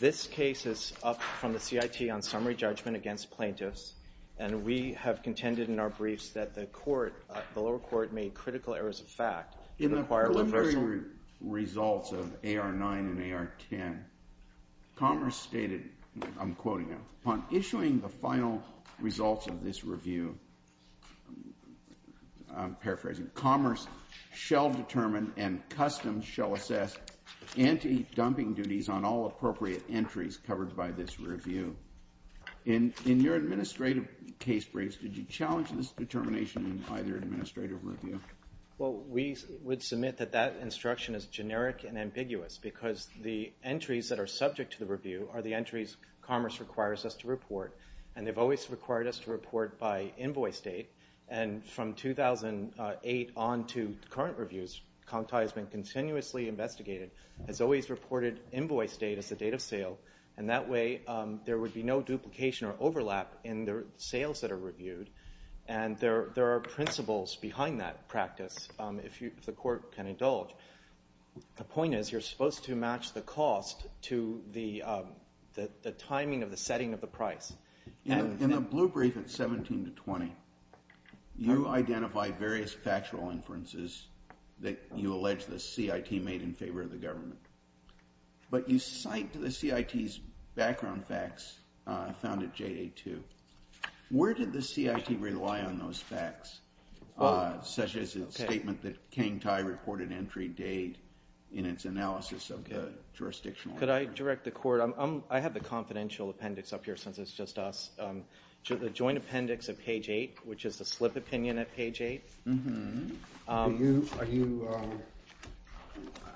This case is up from the CIT on summary judgment against plaintiffs, and we have contended in our briefs that the court, the lower court, made critical errors of fact. In the preliminary results of AR 9 and AR 10, Commerce stated, I'm quoting now, Upon issuing the final results of this review, I'm paraphrasing, Commerce shall determine and Customs shall assess anti-dumping duties on all appropriate entries covered by this review. In your administrative case briefs, did you challenge this determination in either administrative review? Well, we would submit that that instruction is generic and ambiguous because the entries that are subject to the review are the entries Commerce requires us to report, and they've always required us to report by invoice date, and from 2008 on to current reviews, Kangtai has been continuously investigated, has always reported invoice date as the date of sale, and that way there would be no duplication or overlap in the sales that are reviewed, and there are principles behind that practice, if the court can indulge. The point is you're supposed to match the cost to the timing of the setting of the price. In the blue brief at 17 to 20, you identify various factual inferences that you allege the CIT made in favor of the government, but you cite the CIT's background facts found at J82. Where did the CIT rely on those facts, such as its statement that Kangtai reported in its analysis of the jurisdictional? Could I direct the court, I have the confidential appendix up here since it's just us, the joint appendix at page 8, which is the slip opinion at page 8. I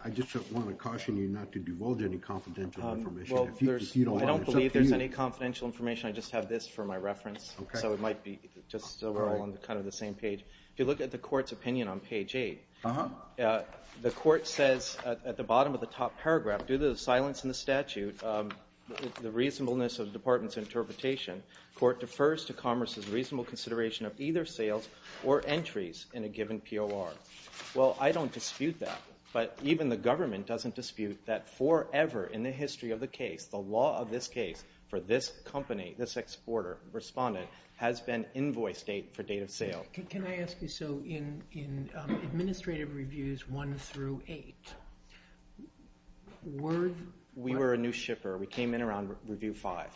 just want to caution you not to divulge any confidential information. I don't believe there's any confidential information, I just have this for my reference, so it might be just so we're all on kind of the same page. If you look at the court's opinion on page 8, the court says at the bottom of the top paragraph, due to the silence in the statute, the reasonableness of the department's interpretation, court defers to commerce's reasonable consideration of either sales or entries in a given POR. Well, I don't dispute that, but even the government doesn't dispute that forever in the history of the case, the law of this case for this company, this exporter, respondent, has been invoice date for date of sale. Can I ask you, so in administrative reviews 1 through 8, we were a new shipper, we came in around review 5,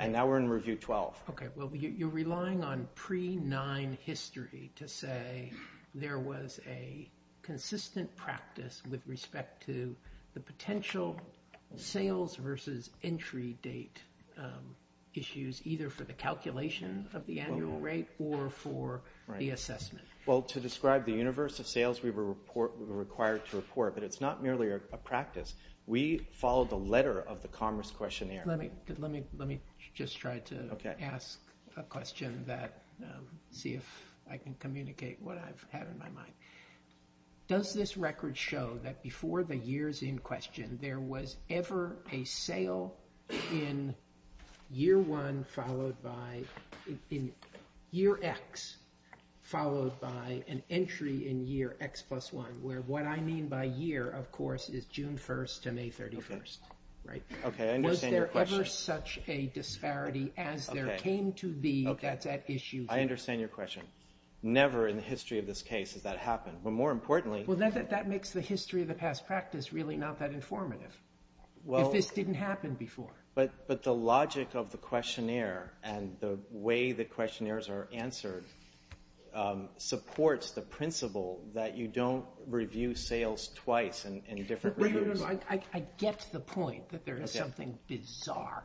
and now we're in review 12. Okay, well you're relying on pre-9 history to say there was a consistent practice with respect to the potential sales versus entry date issues, either for the calculation of the annual rate or for the assessment. Well, to describe the universe of sales, we were required to report, but it's not merely a practice. We followed the letter of the commerce questionnaire. Let me just try to ask a question, see if I can communicate what I've had in my mind. Does this record show that before the years in question, there was ever a sale in year 1 followed by, in year X, followed by an entry in year X plus 1, where what I mean by year, of course, is June 1st to May 31st, right? Okay, I understand your question. Was there ever such a disparity as there came to be that's at issue here? I understand your question. Never in the history of this case has that happened, but more importantly... Well, that makes the history of the past practice really not that informative, if this didn't happen before. But the logic of the questionnaire and the way the questionnaires are answered supports the principle that you don't review sales twice in different reviews. I get the point that there is something bizarre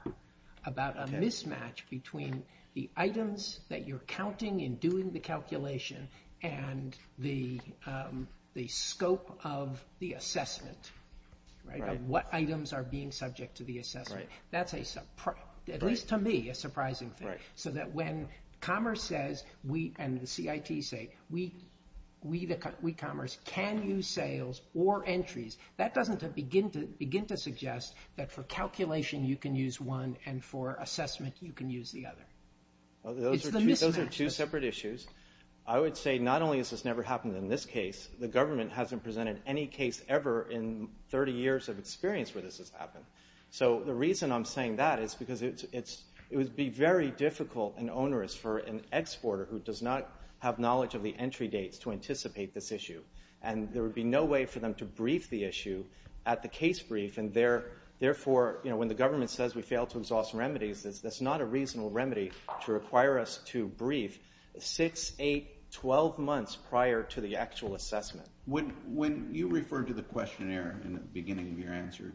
about a mismatch between the items that you're counting in doing the calculation and the scope of the assessment, of what items are being subject to the assessment. That's, at least to me, a surprising thing. So that when Commerce says, and the CIT say, we, Commerce, can use sales or entries, that doesn't begin to suggest that for calculation you can use one and for assessment you can use the other. It's the mismatch. Those are two separate issues. I would say not only has this never happened in this case, the government hasn't presented any case ever in 30 years of experience where this has happened. So the reason I'm saying that is because it would be very difficult and onerous for an exporter who does not have knowledge of the entry dates to anticipate this issue. There would be no way for them to brief the issue at the case brief, and therefore, when the government says we failed to exhaust remedies, that's not a reasonable remedy to require us to brief 6, 8, 12 months prior to the actual assessment. When you referred to the questionnaire in the beginning of your answer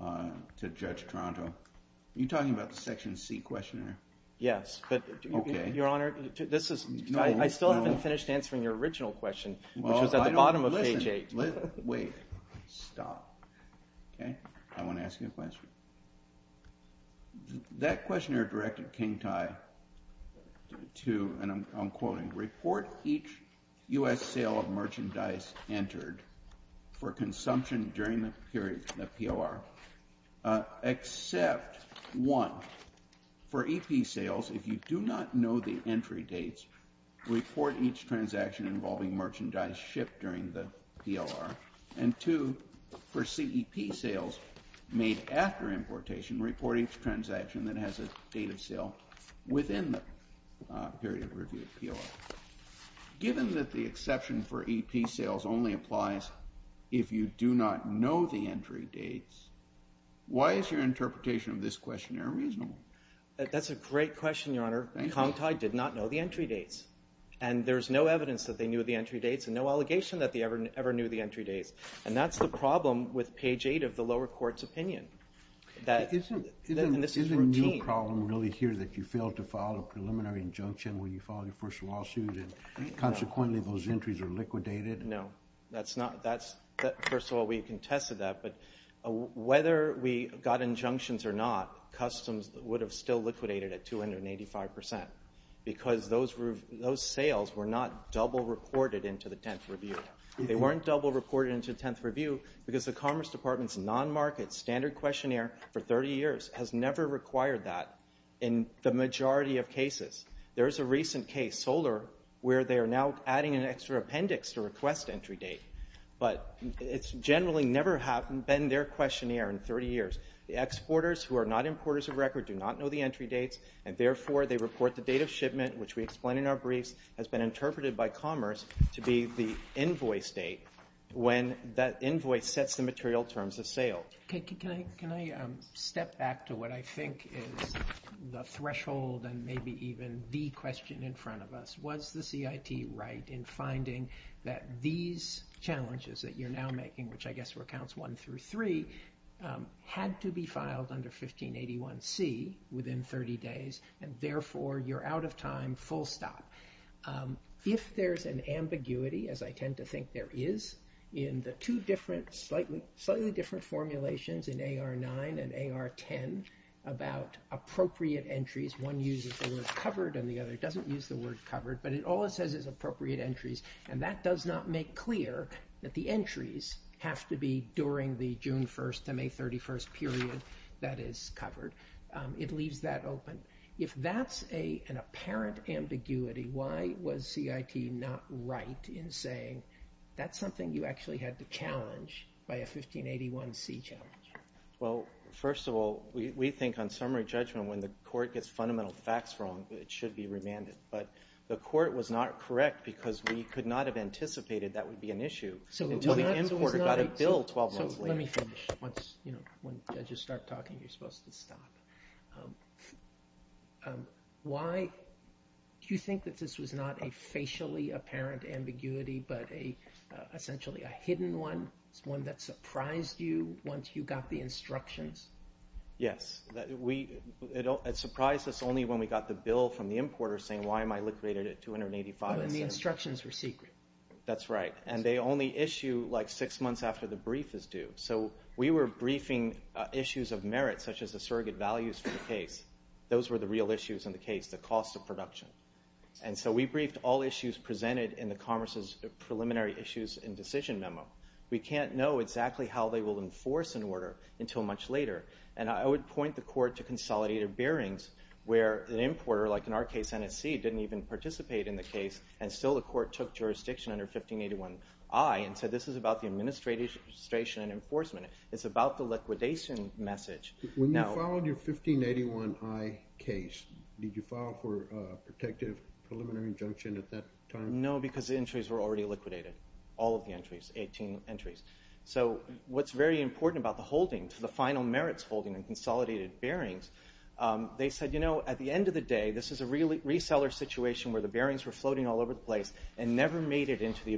to Judge Toronto, are you talking about the Section C questionnaire? Yes. I still haven't finished answering your original question, which was at the bottom of page 8. Wait. Stop. I want to ask you a question. That questionnaire directed King Tai to, and I'm quoting, report each U.S. sale of merchandise entered for consumption during the period, the PLR, except, one, for EP sales, if you do not know the entry dates, report each transaction involving merchandise shipped during the PLR, and two, for CEP sales made after importation, report each transaction that has a date of sale within the period of review of PLR. Given that the exception for EP sales only applies if you do not know the entry dates, why is your interpretation of this questionnaire reasonable? That's a great question, Your Honor. King Tai did not know the entry dates. And there's no evidence that they knew the entry dates and no allegation that they ever knew the entry dates. And that's the problem with page 8 of the lower court's opinion. Isn't your problem really here that you failed to file a preliminary injunction when you filed your first lawsuit and consequently those entries are liquidated? No. First of all, we contested that, but whether we got injunctions or not, customs would have still liquidated at 285 percent because those sales were not double reported into the 10th review. They weren't double reported into the 10th review because the Commerce Department's non-market standard questionnaire for 30 years has never required that in the past entry date. But it's generally never been their questionnaire in 30 years. The exporters who are not importers of record do not know the entry dates, and therefore they report the date of shipment, which we explain in our briefs, has been interpreted by Commerce to be the invoice date when that invoice sets the material terms of sale. Can I step back to what I think is the threshold and maybe even the question in front of us, was the CIT right in finding that these challenges that you're now making, which I guess were counts 1 through 3, had to be filed under 1581C within 30 days, and therefore you're out of time, full stop. If there's an ambiguity, as I tend to think there is, in the two different, slightly different formulations in AR 9 and AR 10 about appropriate entries, one uses the word covered and the other doesn't use the word covered, but it always says appropriate entries, and that does not make clear that the entries have to be during the June 1st to May 31st period that is covered. It leaves that open. If that's an apparent ambiguity, why was 1581C challenged? Well, first of all, we think on summary judgment when the court gets fundamental facts wrong, it should be remanded, but the court was not correct because we could not have anticipated that would be an issue until the importer got a bill 12 months later. So let me finish. Why do you think that this was not a surprise to you once you got the instructions? Yes. It surprised us only when we got the bill from the importer saying why am I liquidated at 285%. Oh, and the instructions were secret. That's right. And they only issue like six months after the brief is due. So we were briefing issues of merit, such as the surrogate values for the case. Those were the real issues in the case, the cost of production. And so we briefed all issues presented in the Commerce's Preliminary Issues and Decision Memo. We can't know exactly how they will enforce an order until much later. And I would point the court to consolidated bearings where an importer, like in our case NSC, didn't even participate in the case and still the court took jurisdiction under 1581I and said this is about the administration and enforcement. It's about the liquidation message. When you filed your 1581I case, did you file for a protective preliminary injunction at that time? No, because the entries were already liquidated, all of the entries, 18 entries. So what's very important about the holding, the final merits holding and consolidated bearings, they said at the end of the day this is a reseller situation where the bearings were floating all over the place and never made it into the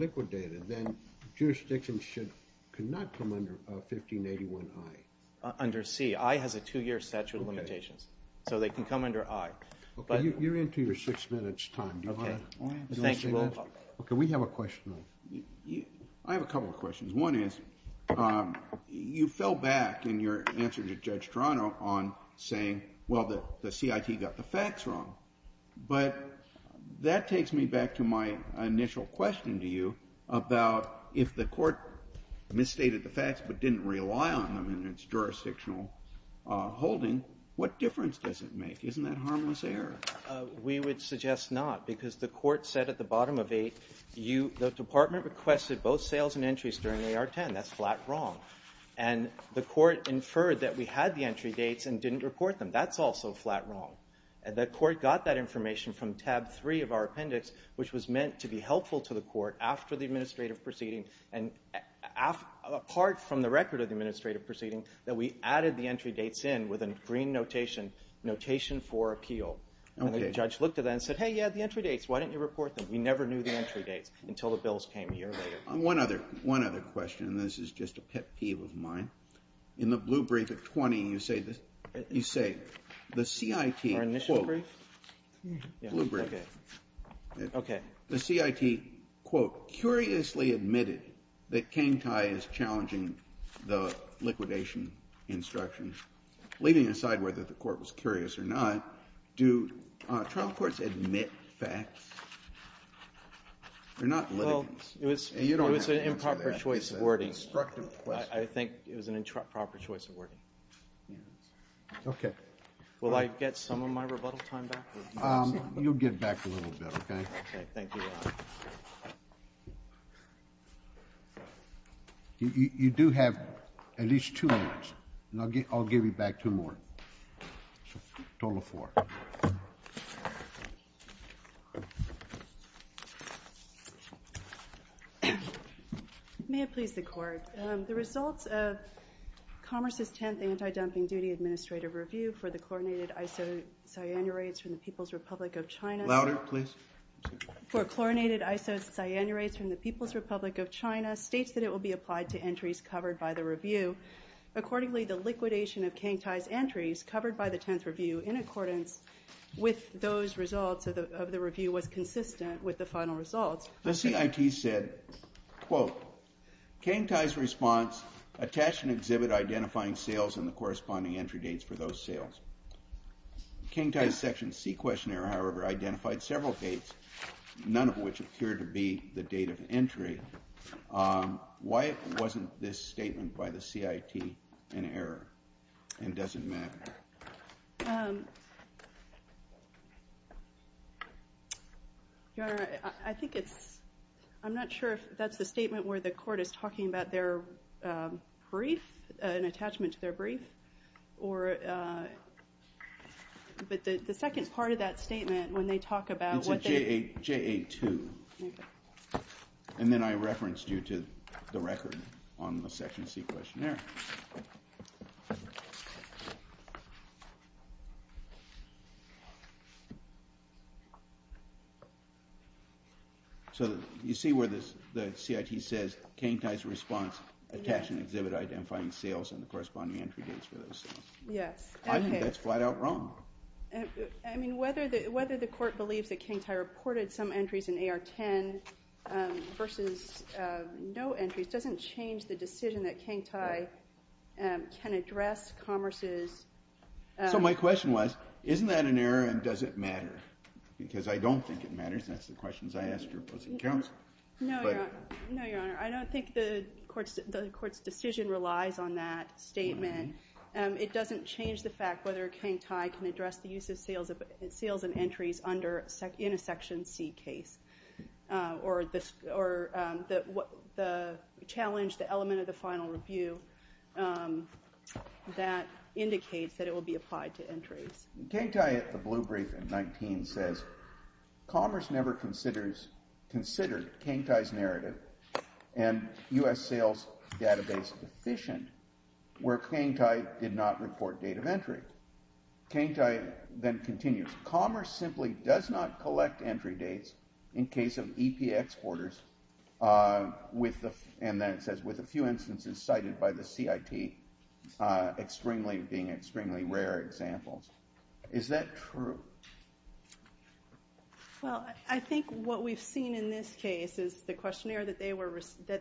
liquidated. Then jurisdiction could not come under 1581I. Under C. I has a two year statute of limitations. So they can come under I. You're into your six minutes time. Do you want to say anything? Okay, we have a question. I have a couple of questions. One is, you fell back in your answer to Judge Toronto on saying well, the C.I.T. got the facts wrong. But that takes me back to my initial question to you about if the court misstated the facts but didn't rely on them in its jurisdictional holding, what difference does it make? Isn't that harmless error? We would suggest not, because the court said at the bottom of 8, the department requested both sales and entries during AR 10. That's flat wrong. And the court inferred that we had the entry dates and didn't report them. That's also flat wrong. The court got that information from tab 3 of our appendix, which was meant to be helpful to the court after the administrative proceeding and apart from the record of the administrative proceeding that we added the entry dates in with a green notation, notation for appeal. And the judge looked at that and said hey, you had the entry dates. Why didn't you report them? We never knew the entry dates until the bills came a year later. One other question. This is just a pet peeve of mine. In the blue brief at 20, you say the C.I.T. Our initial brief? Blue brief. Okay. The C.I.T. quote, curiously admitted that Kang Thai is challenging the liquidation instructions, leaving aside whether the court was curious or not. Do trial courts admit facts? They're not litigants. It was an improper choice of wording. I think it was an improper choice of wording. Will I get some of my rebuttal time back? You'll get back a little bit. Okay. Thank you, Your Honor. You do have at least two minutes, and I'll give you back two more. Total of four. May it please the Court. The results of Commerce's tenth anti-dumping duty administrative review for the chlorinated isocyanurates from the People's Republic of China. Louder, please. For chlorinated isocyanurates from the People's Republic of China, states that it will be applied to entries covered by the review. Accordingly, the liquidation of Kang Thai's entries covered by the tenth review in accordance with those results of the review was consistent with the final results. The C.I.T. said, quote, Kang Thai's response attached an exhibit identifying sales and the corresponding entry dates for those sales. Kang Thai's section C questionnaire, however, identified several dates, none of which appeared to be the date of entry. Why wasn't this statement by the C.I.T. an error? And does it matter? Your Honor, I think it's... I'm not sure if that's the statement where the Court is talking about their brief, an attachment to their brief, or... But the second part of that statement, when they talk about what they... It's a JA2. And then I referenced you to the record on the section C questionnaire. So you see where the C.I.T. says, Kang Thai's response attached an exhibit identifying sales and the corresponding entry dates for those sales. I think that's flat out wrong. I mean, whether the Court believes that Kang Thai reported some entries in AR10 versus no entries doesn't change the decision that Kang Thai can address commerce's... So my question was, isn't that an error and does it matter? Because I don't think it matters. That's the questions I ask your opposing counsel. No, Your Honor. I don't think the Court's decision relies on that statement. It doesn't change the fact whether Kang Thai can address the use of sales and entries in a section C case or the challenge, the element of the final review that indicates that it will be applied to entries. Kang Thai at the blue brief in AR19 says, commerce never considered Kang Thai's narrative and U.S. sales database deficient where Kang Thai did not report date of entry. Kang Thai then continues, commerce simply does not collect entry dates in case of EP exporters, and then it says, with a few instances cited by the C.I.T. being extremely rare examples. Is that true? Well, I think what we've seen in this case is the questionnaire that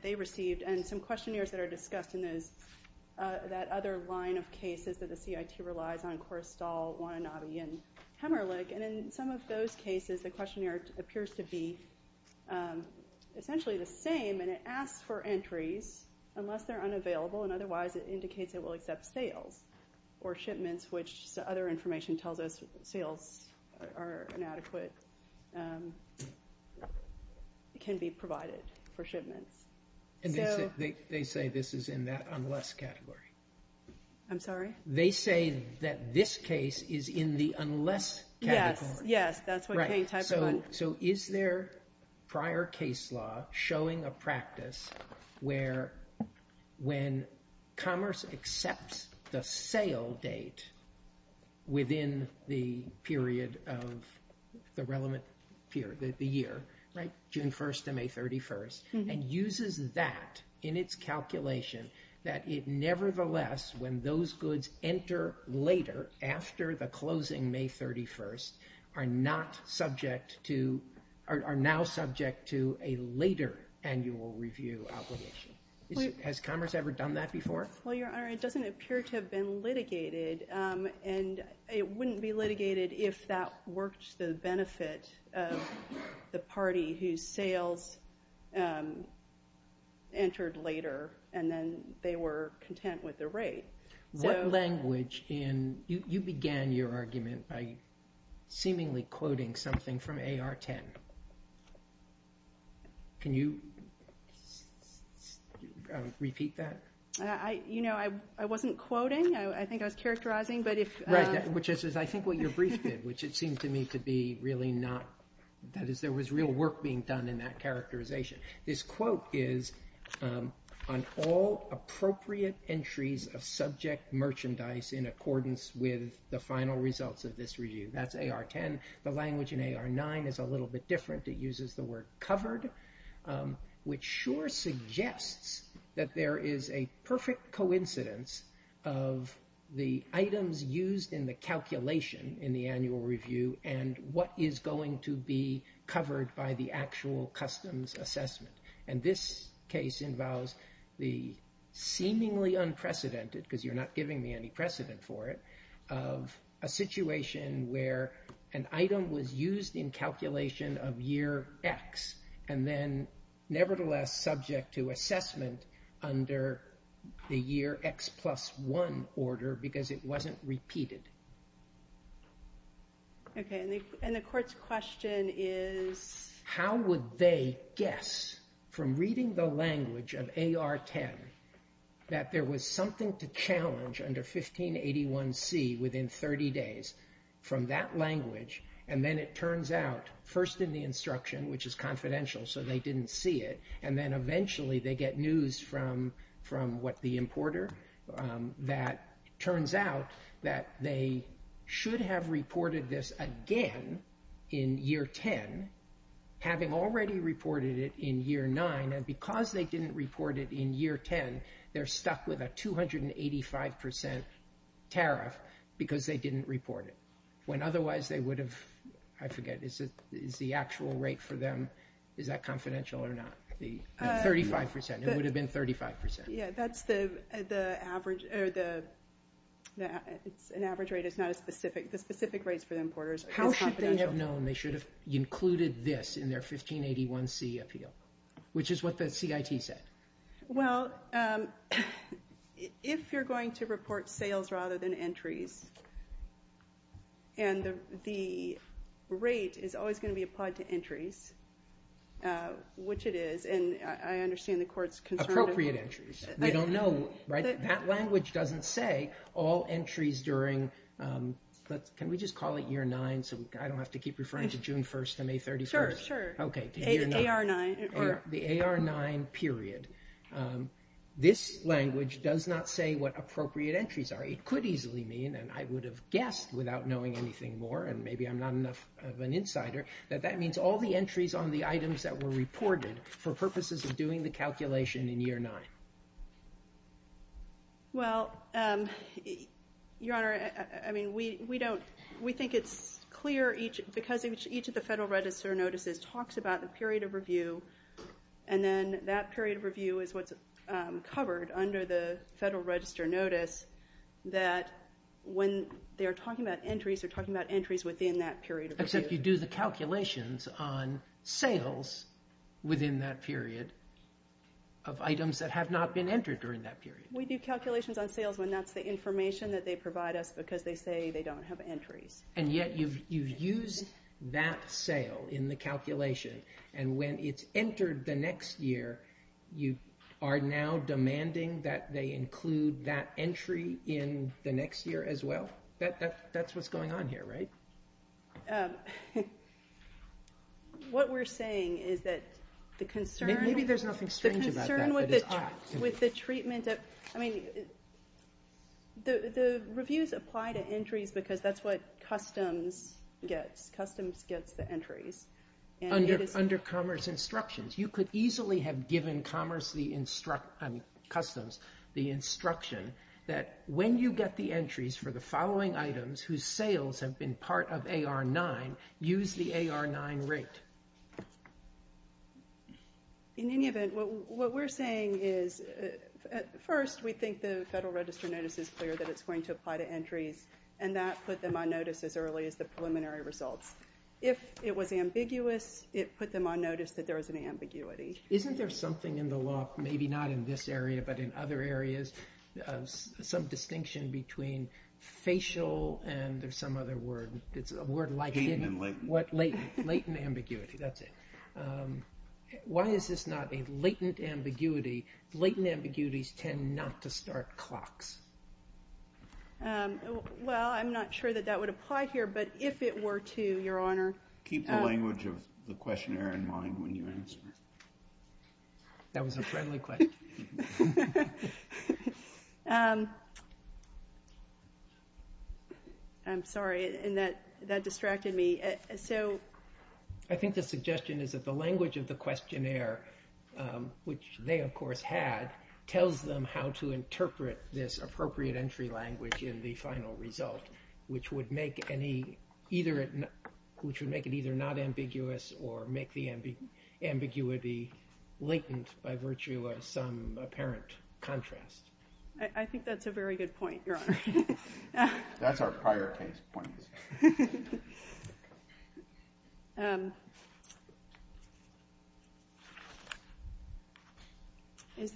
they received and some questionnaires that are discussed in that other line of cases that the C.I.T. relies on, Korrestal, Wananabe, and Hemmerlich, and in some of those cases the questionnaire appears to be essentially the same, and it asks for entries unless they're unavailable, and otherwise it indicates it will accept sales or shipments, which other information tells us sales are inadequate can be provided for shipments. They say this is in that unless category. I'm sorry? They say that this case is in the unless category. So is there prior case law showing a practice where when commerce accepts the sale date within the period of the relevant year, June 1st to May 31st, and uses that in its case, the sales of the closing May 31st are now subject to a later annual review obligation. Has commerce ever done that before? Well, Your Honor, it doesn't appear to have been litigated, and it wouldn't be litigated if that worked the benefit of the party whose sales entered later, and then they were content with the rate. You began your argument by seemingly quoting something from AR 10. Can you repeat that? I wasn't quoting. I think I was characterizing. Right, which is I think what your brief did, which it seemed to me to be really not. There was real work being done in that characterization. This quote is on all appropriate entries of subject merchandise in accordance with the final results of this review. That's AR 10. The language in AR 9 is a little bit different. It uses the word covered, which sure suggests that there is a perfect coincidence of the items used in the calculation in the annual review and what is going to be covered by the actual customs assessment. And this case involves the seemingly unprecedented, because you're not giving me any precedent for it, of a and then nevertheless subject to assessment under the year X plus 1 order because it wasn't repeated. And the court's question is? How would they guess from reading the language of AR 10 that there was something to challenge under 1581C within 30 days from that language? And then it turns out first in the instruction, which is confidential, so they didn't see it. And then eventually they get news from what the importer that turns out that they should have reported this again in year 10, having already reported it in year 9. And because they didn't report it in year 10, they're stuck with a 285% tariff because they didn't report it. When otherwise they would have, I forget, is the actual rate for them, is that confidential or not? 35%. It would have been 35%. An average rate is not a specific, the specific rates for the importers is confidential. How should they have known they should have appeal? Which is what the CIT said. Well, if you're going to report sales rather than entries, and the rate is always going to be applied to entries, which it is, and I understand the court's concerned. Appropriate entries. They don't know, right? That language doesn't say all entries during, can we just call it year 9 so I don't have to keep referring to June 1st and May 31st? Sure. Okay. AR9. The AR9 period. This language does not say what appropriate entries are. It could easily mean, and I would have guessed without knowing anything more, and maybe I'm not enough of an insider, that that means all the entries on the items that were reported for purposes of doing the calculation in year 9. Well, Your Honor, I mean, we don't, we think it's clear, because each of the Federal Register notices talks about the period of review, and then that period of review is what's covered under the Federal Register notice, that when they're talking about entries, they're talking about entries within that period of review. Except you do the calculations on sales within that period of items that have not been entered during that period. We do calculations on sales when that's the information that they provide us because they say they don't have entries. And yet you've used that sale in the calculation, and when it's entered the next year, you are now demanding that they include that What we're saying is that the concern... Maybe there's nothing strange about that. The concern with the treatment of, I mean, the reviews apply to entries because that's what Customs gets. Customs gets the entries. Under Commerce instructions, you could easily have given Commerce the instruction, I mean Customs, the instruction that when you get the entries for the following items whose sales have been part of AR-9, use the AR-9 rate. In any event, what we're saying is, first, we think the Federal Register notice is clear that it's going to apply to entries, and that put them on notice as early as the preliminary results. If it was ambiguous, it put them on notice that there was an ambiguity. Isn't there something in the law, maybe not in this area, but in other areas, some distinction between facial, and there's some other word, it's a word like latent ambiguity, that's it. Why is this not a latent ambiguity? Latent ambiguities tend not to start clocks. Well, I'm not sure that that would apply here, but if it were to, Your Honor. Keep the language of the questionnaire in mind when you answer. That was a friendly question. I'm sorry, that distracted me. I think the suggestion is that the language of the questionnaire, which they of course had, tells them how to interpret this appropriate entry language in the final result, which would make it either not ambiguous or make the ambiguity latent by virtue of some apparent contrast. I think that's a very good point, Your Honor. That's our prior case point. If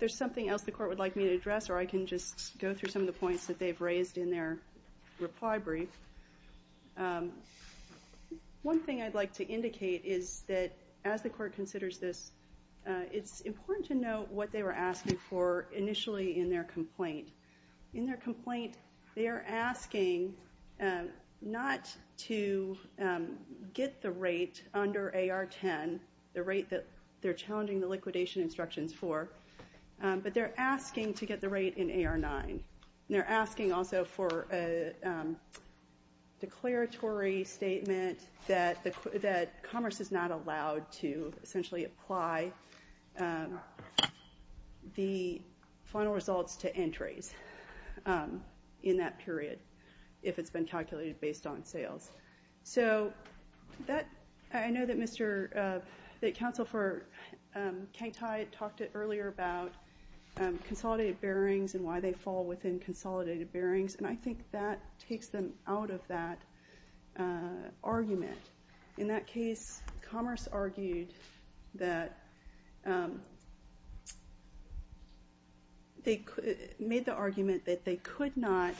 there's something else the Court would like me to address, or I can just go through some of the points that they've raised in their reply brief. One thing I'd like to indicate is that as the Court considers this, it's important to note what they were asking, not to get the rate under AR-10, the rate that they're challenging the liquidation instructions for, but they're asking to get the rate in AR-9. They're asking also for a declaratory statement that Commerce is not allowed to essentially apply the final results to entries in that period, if it's been calculated based on sales. I know that Counsel for Kangtide talked earlier about consolidated bearings and why they fall within consolidated bearings, and I think that takes them out of that They made the argument that they could not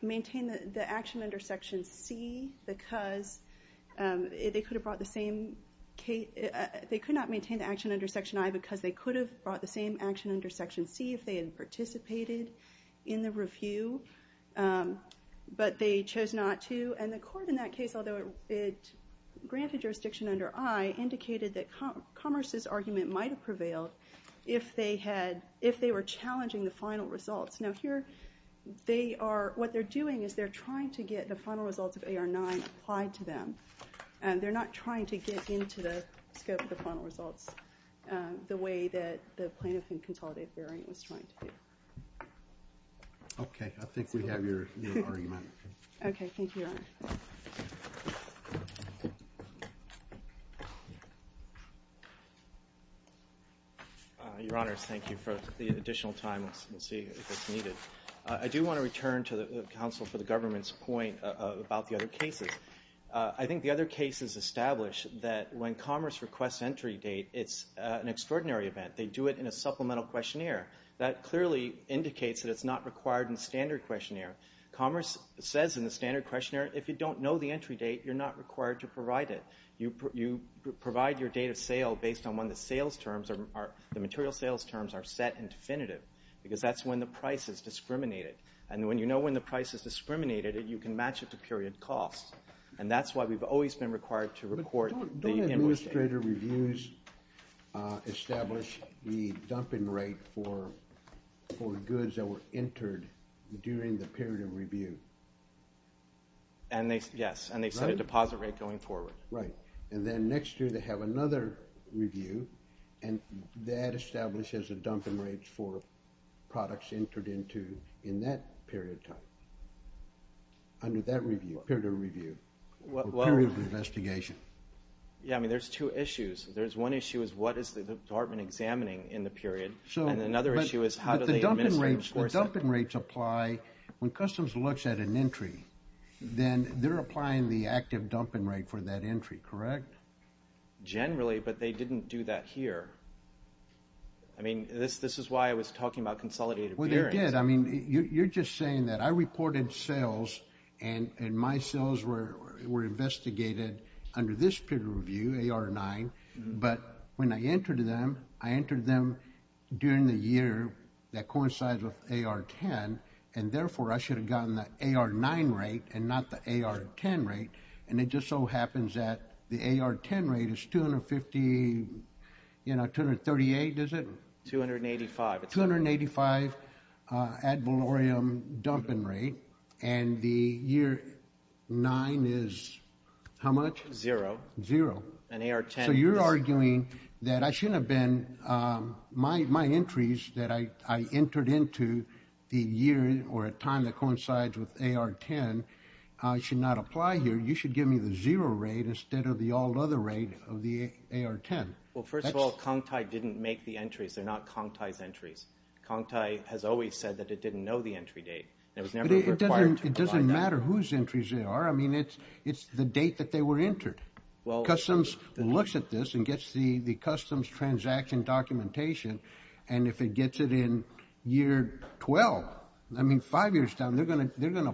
maintain the action under Section C because they could not maintain the action under Section I because they could have brought the same action under Section C if they had participated in the review, but they chose not to. And the Court in that case, although it granted jurisdiction under I, indicated that Commerce's argument might have prevailed if they were challenging the final results. Now here, what they're doing is they're trying to get the final results of AR-9 applied to them. They're not trying to get into the scope of the final results the way that the plaintiff in consolidated bearing was trying to do. Okay, I think we have your argument. Your Honors, thank you for the additional time. I do want to return to the Counsel for the Government's point about the other cases. I think the other cases establish that when Commerce requests entry date, it's an extraordinary event. They do it in a supplemental questionnaire. That clearly indicates that it's not required in the standard questionnaire. Commerce says in the standard questionnaire, if you don't know the entry date, you're not required to provide it. You provide your date of sale based on when the material sales terms are set in definitive, because that's when the price is discriminated. And when you know when the price is discriminated, you can match it to period costs. And that's why we've always been required to record the invoice date. Don't the administrator reviews establish the dumping rate for goods that were entered during the period of review? Yes, and they set a deposit rate going forward. Right, and then next year they have another review, and that establishes a dumping rate for products entered into in that period of time. Under that period of review, or period of investigation. Yeah, I mean, there's two issues. There's one issue is what is the department examining in the period. And another issue is how do they administer, of course. When Customs looks at an entry, then they're applying the active dumping rate for that entry, correct? Generally, but they didn't do that here. I mean, this is why I was talking about consolidated periods. Well, they did. I mean, you're just saying that I reported sales, and my sales were investigated under this period of review, AR-9. But when I entered them, I entered them during the year that coincides with AR-10. And therefore, I should have gotten the AR-9 rate and not the AR-10 rate. And it just so happens that the AR-10 rate is 250, you know, 238, is it? 285. 285 ad valorem dumping rate. And the year 9 is how much? Zero. Zero. So you're arguing that I shouldn't have been my entries that I entered into the year or a time that coincides with the AR-10. Well, first of all, Kongtai didn't make the entries. They're not Kongtai's entries. Kongtai has always said that it didn't know the entry date. It doesn't matter whose entries they are. I mean, it's the date that they were entered. Customs looks at this and gets the Customs transaction documentation. And if it gets it in year 12, I mean, five years down, they're going to have to do an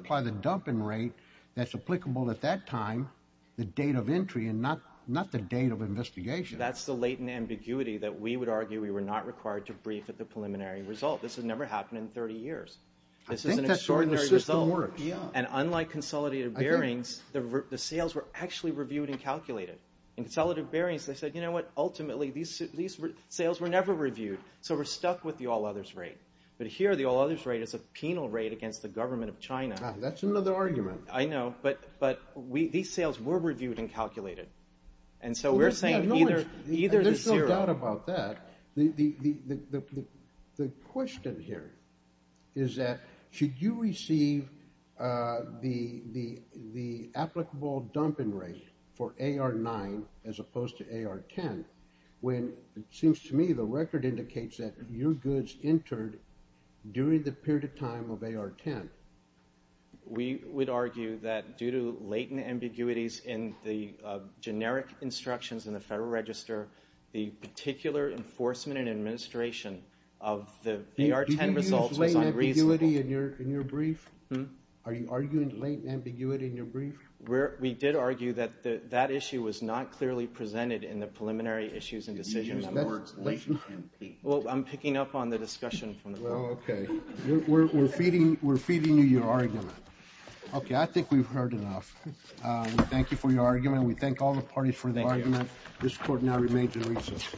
investigation. That's the latent ambiguity that we would argue we were not required to brief at the preliminary result. This has never happened in 30 years. I think that's the way the system works. And unlike consolidated bearings, the sales were actually reviewed and calculated. In consolidated bearings, they said, you know what, ultimately, these sales were never reviewed. So we're stuck with the all others rate. But here, the all others rate is a penal rate against the government of China. That's another argument. I know. But these sales were reviewed and calculated. There's no doubt about that. The question here is that, should you receive the applicable dumping rate for AR-9 as opposed to AR-10, when it seems to me the record indicates that your goods entered during the period of time of AR-10? We would argue that due to latent ambiguities in the generic instructions in the Federal Register, the particular enforcement and administration of the AR-10 results was unreasonable. Do you use latent ambiguity in your brief? Are you arguing latent ambiguity in your brief? We did argue that that issue was not clearly presented in the preliminary issues and decisions. Well, I'm picking up on the discussion. We're feeding you your argument. Okay, I think we've heard enough. Thank you for your argument. We thank all the parties for the argument. This court now remains in recess.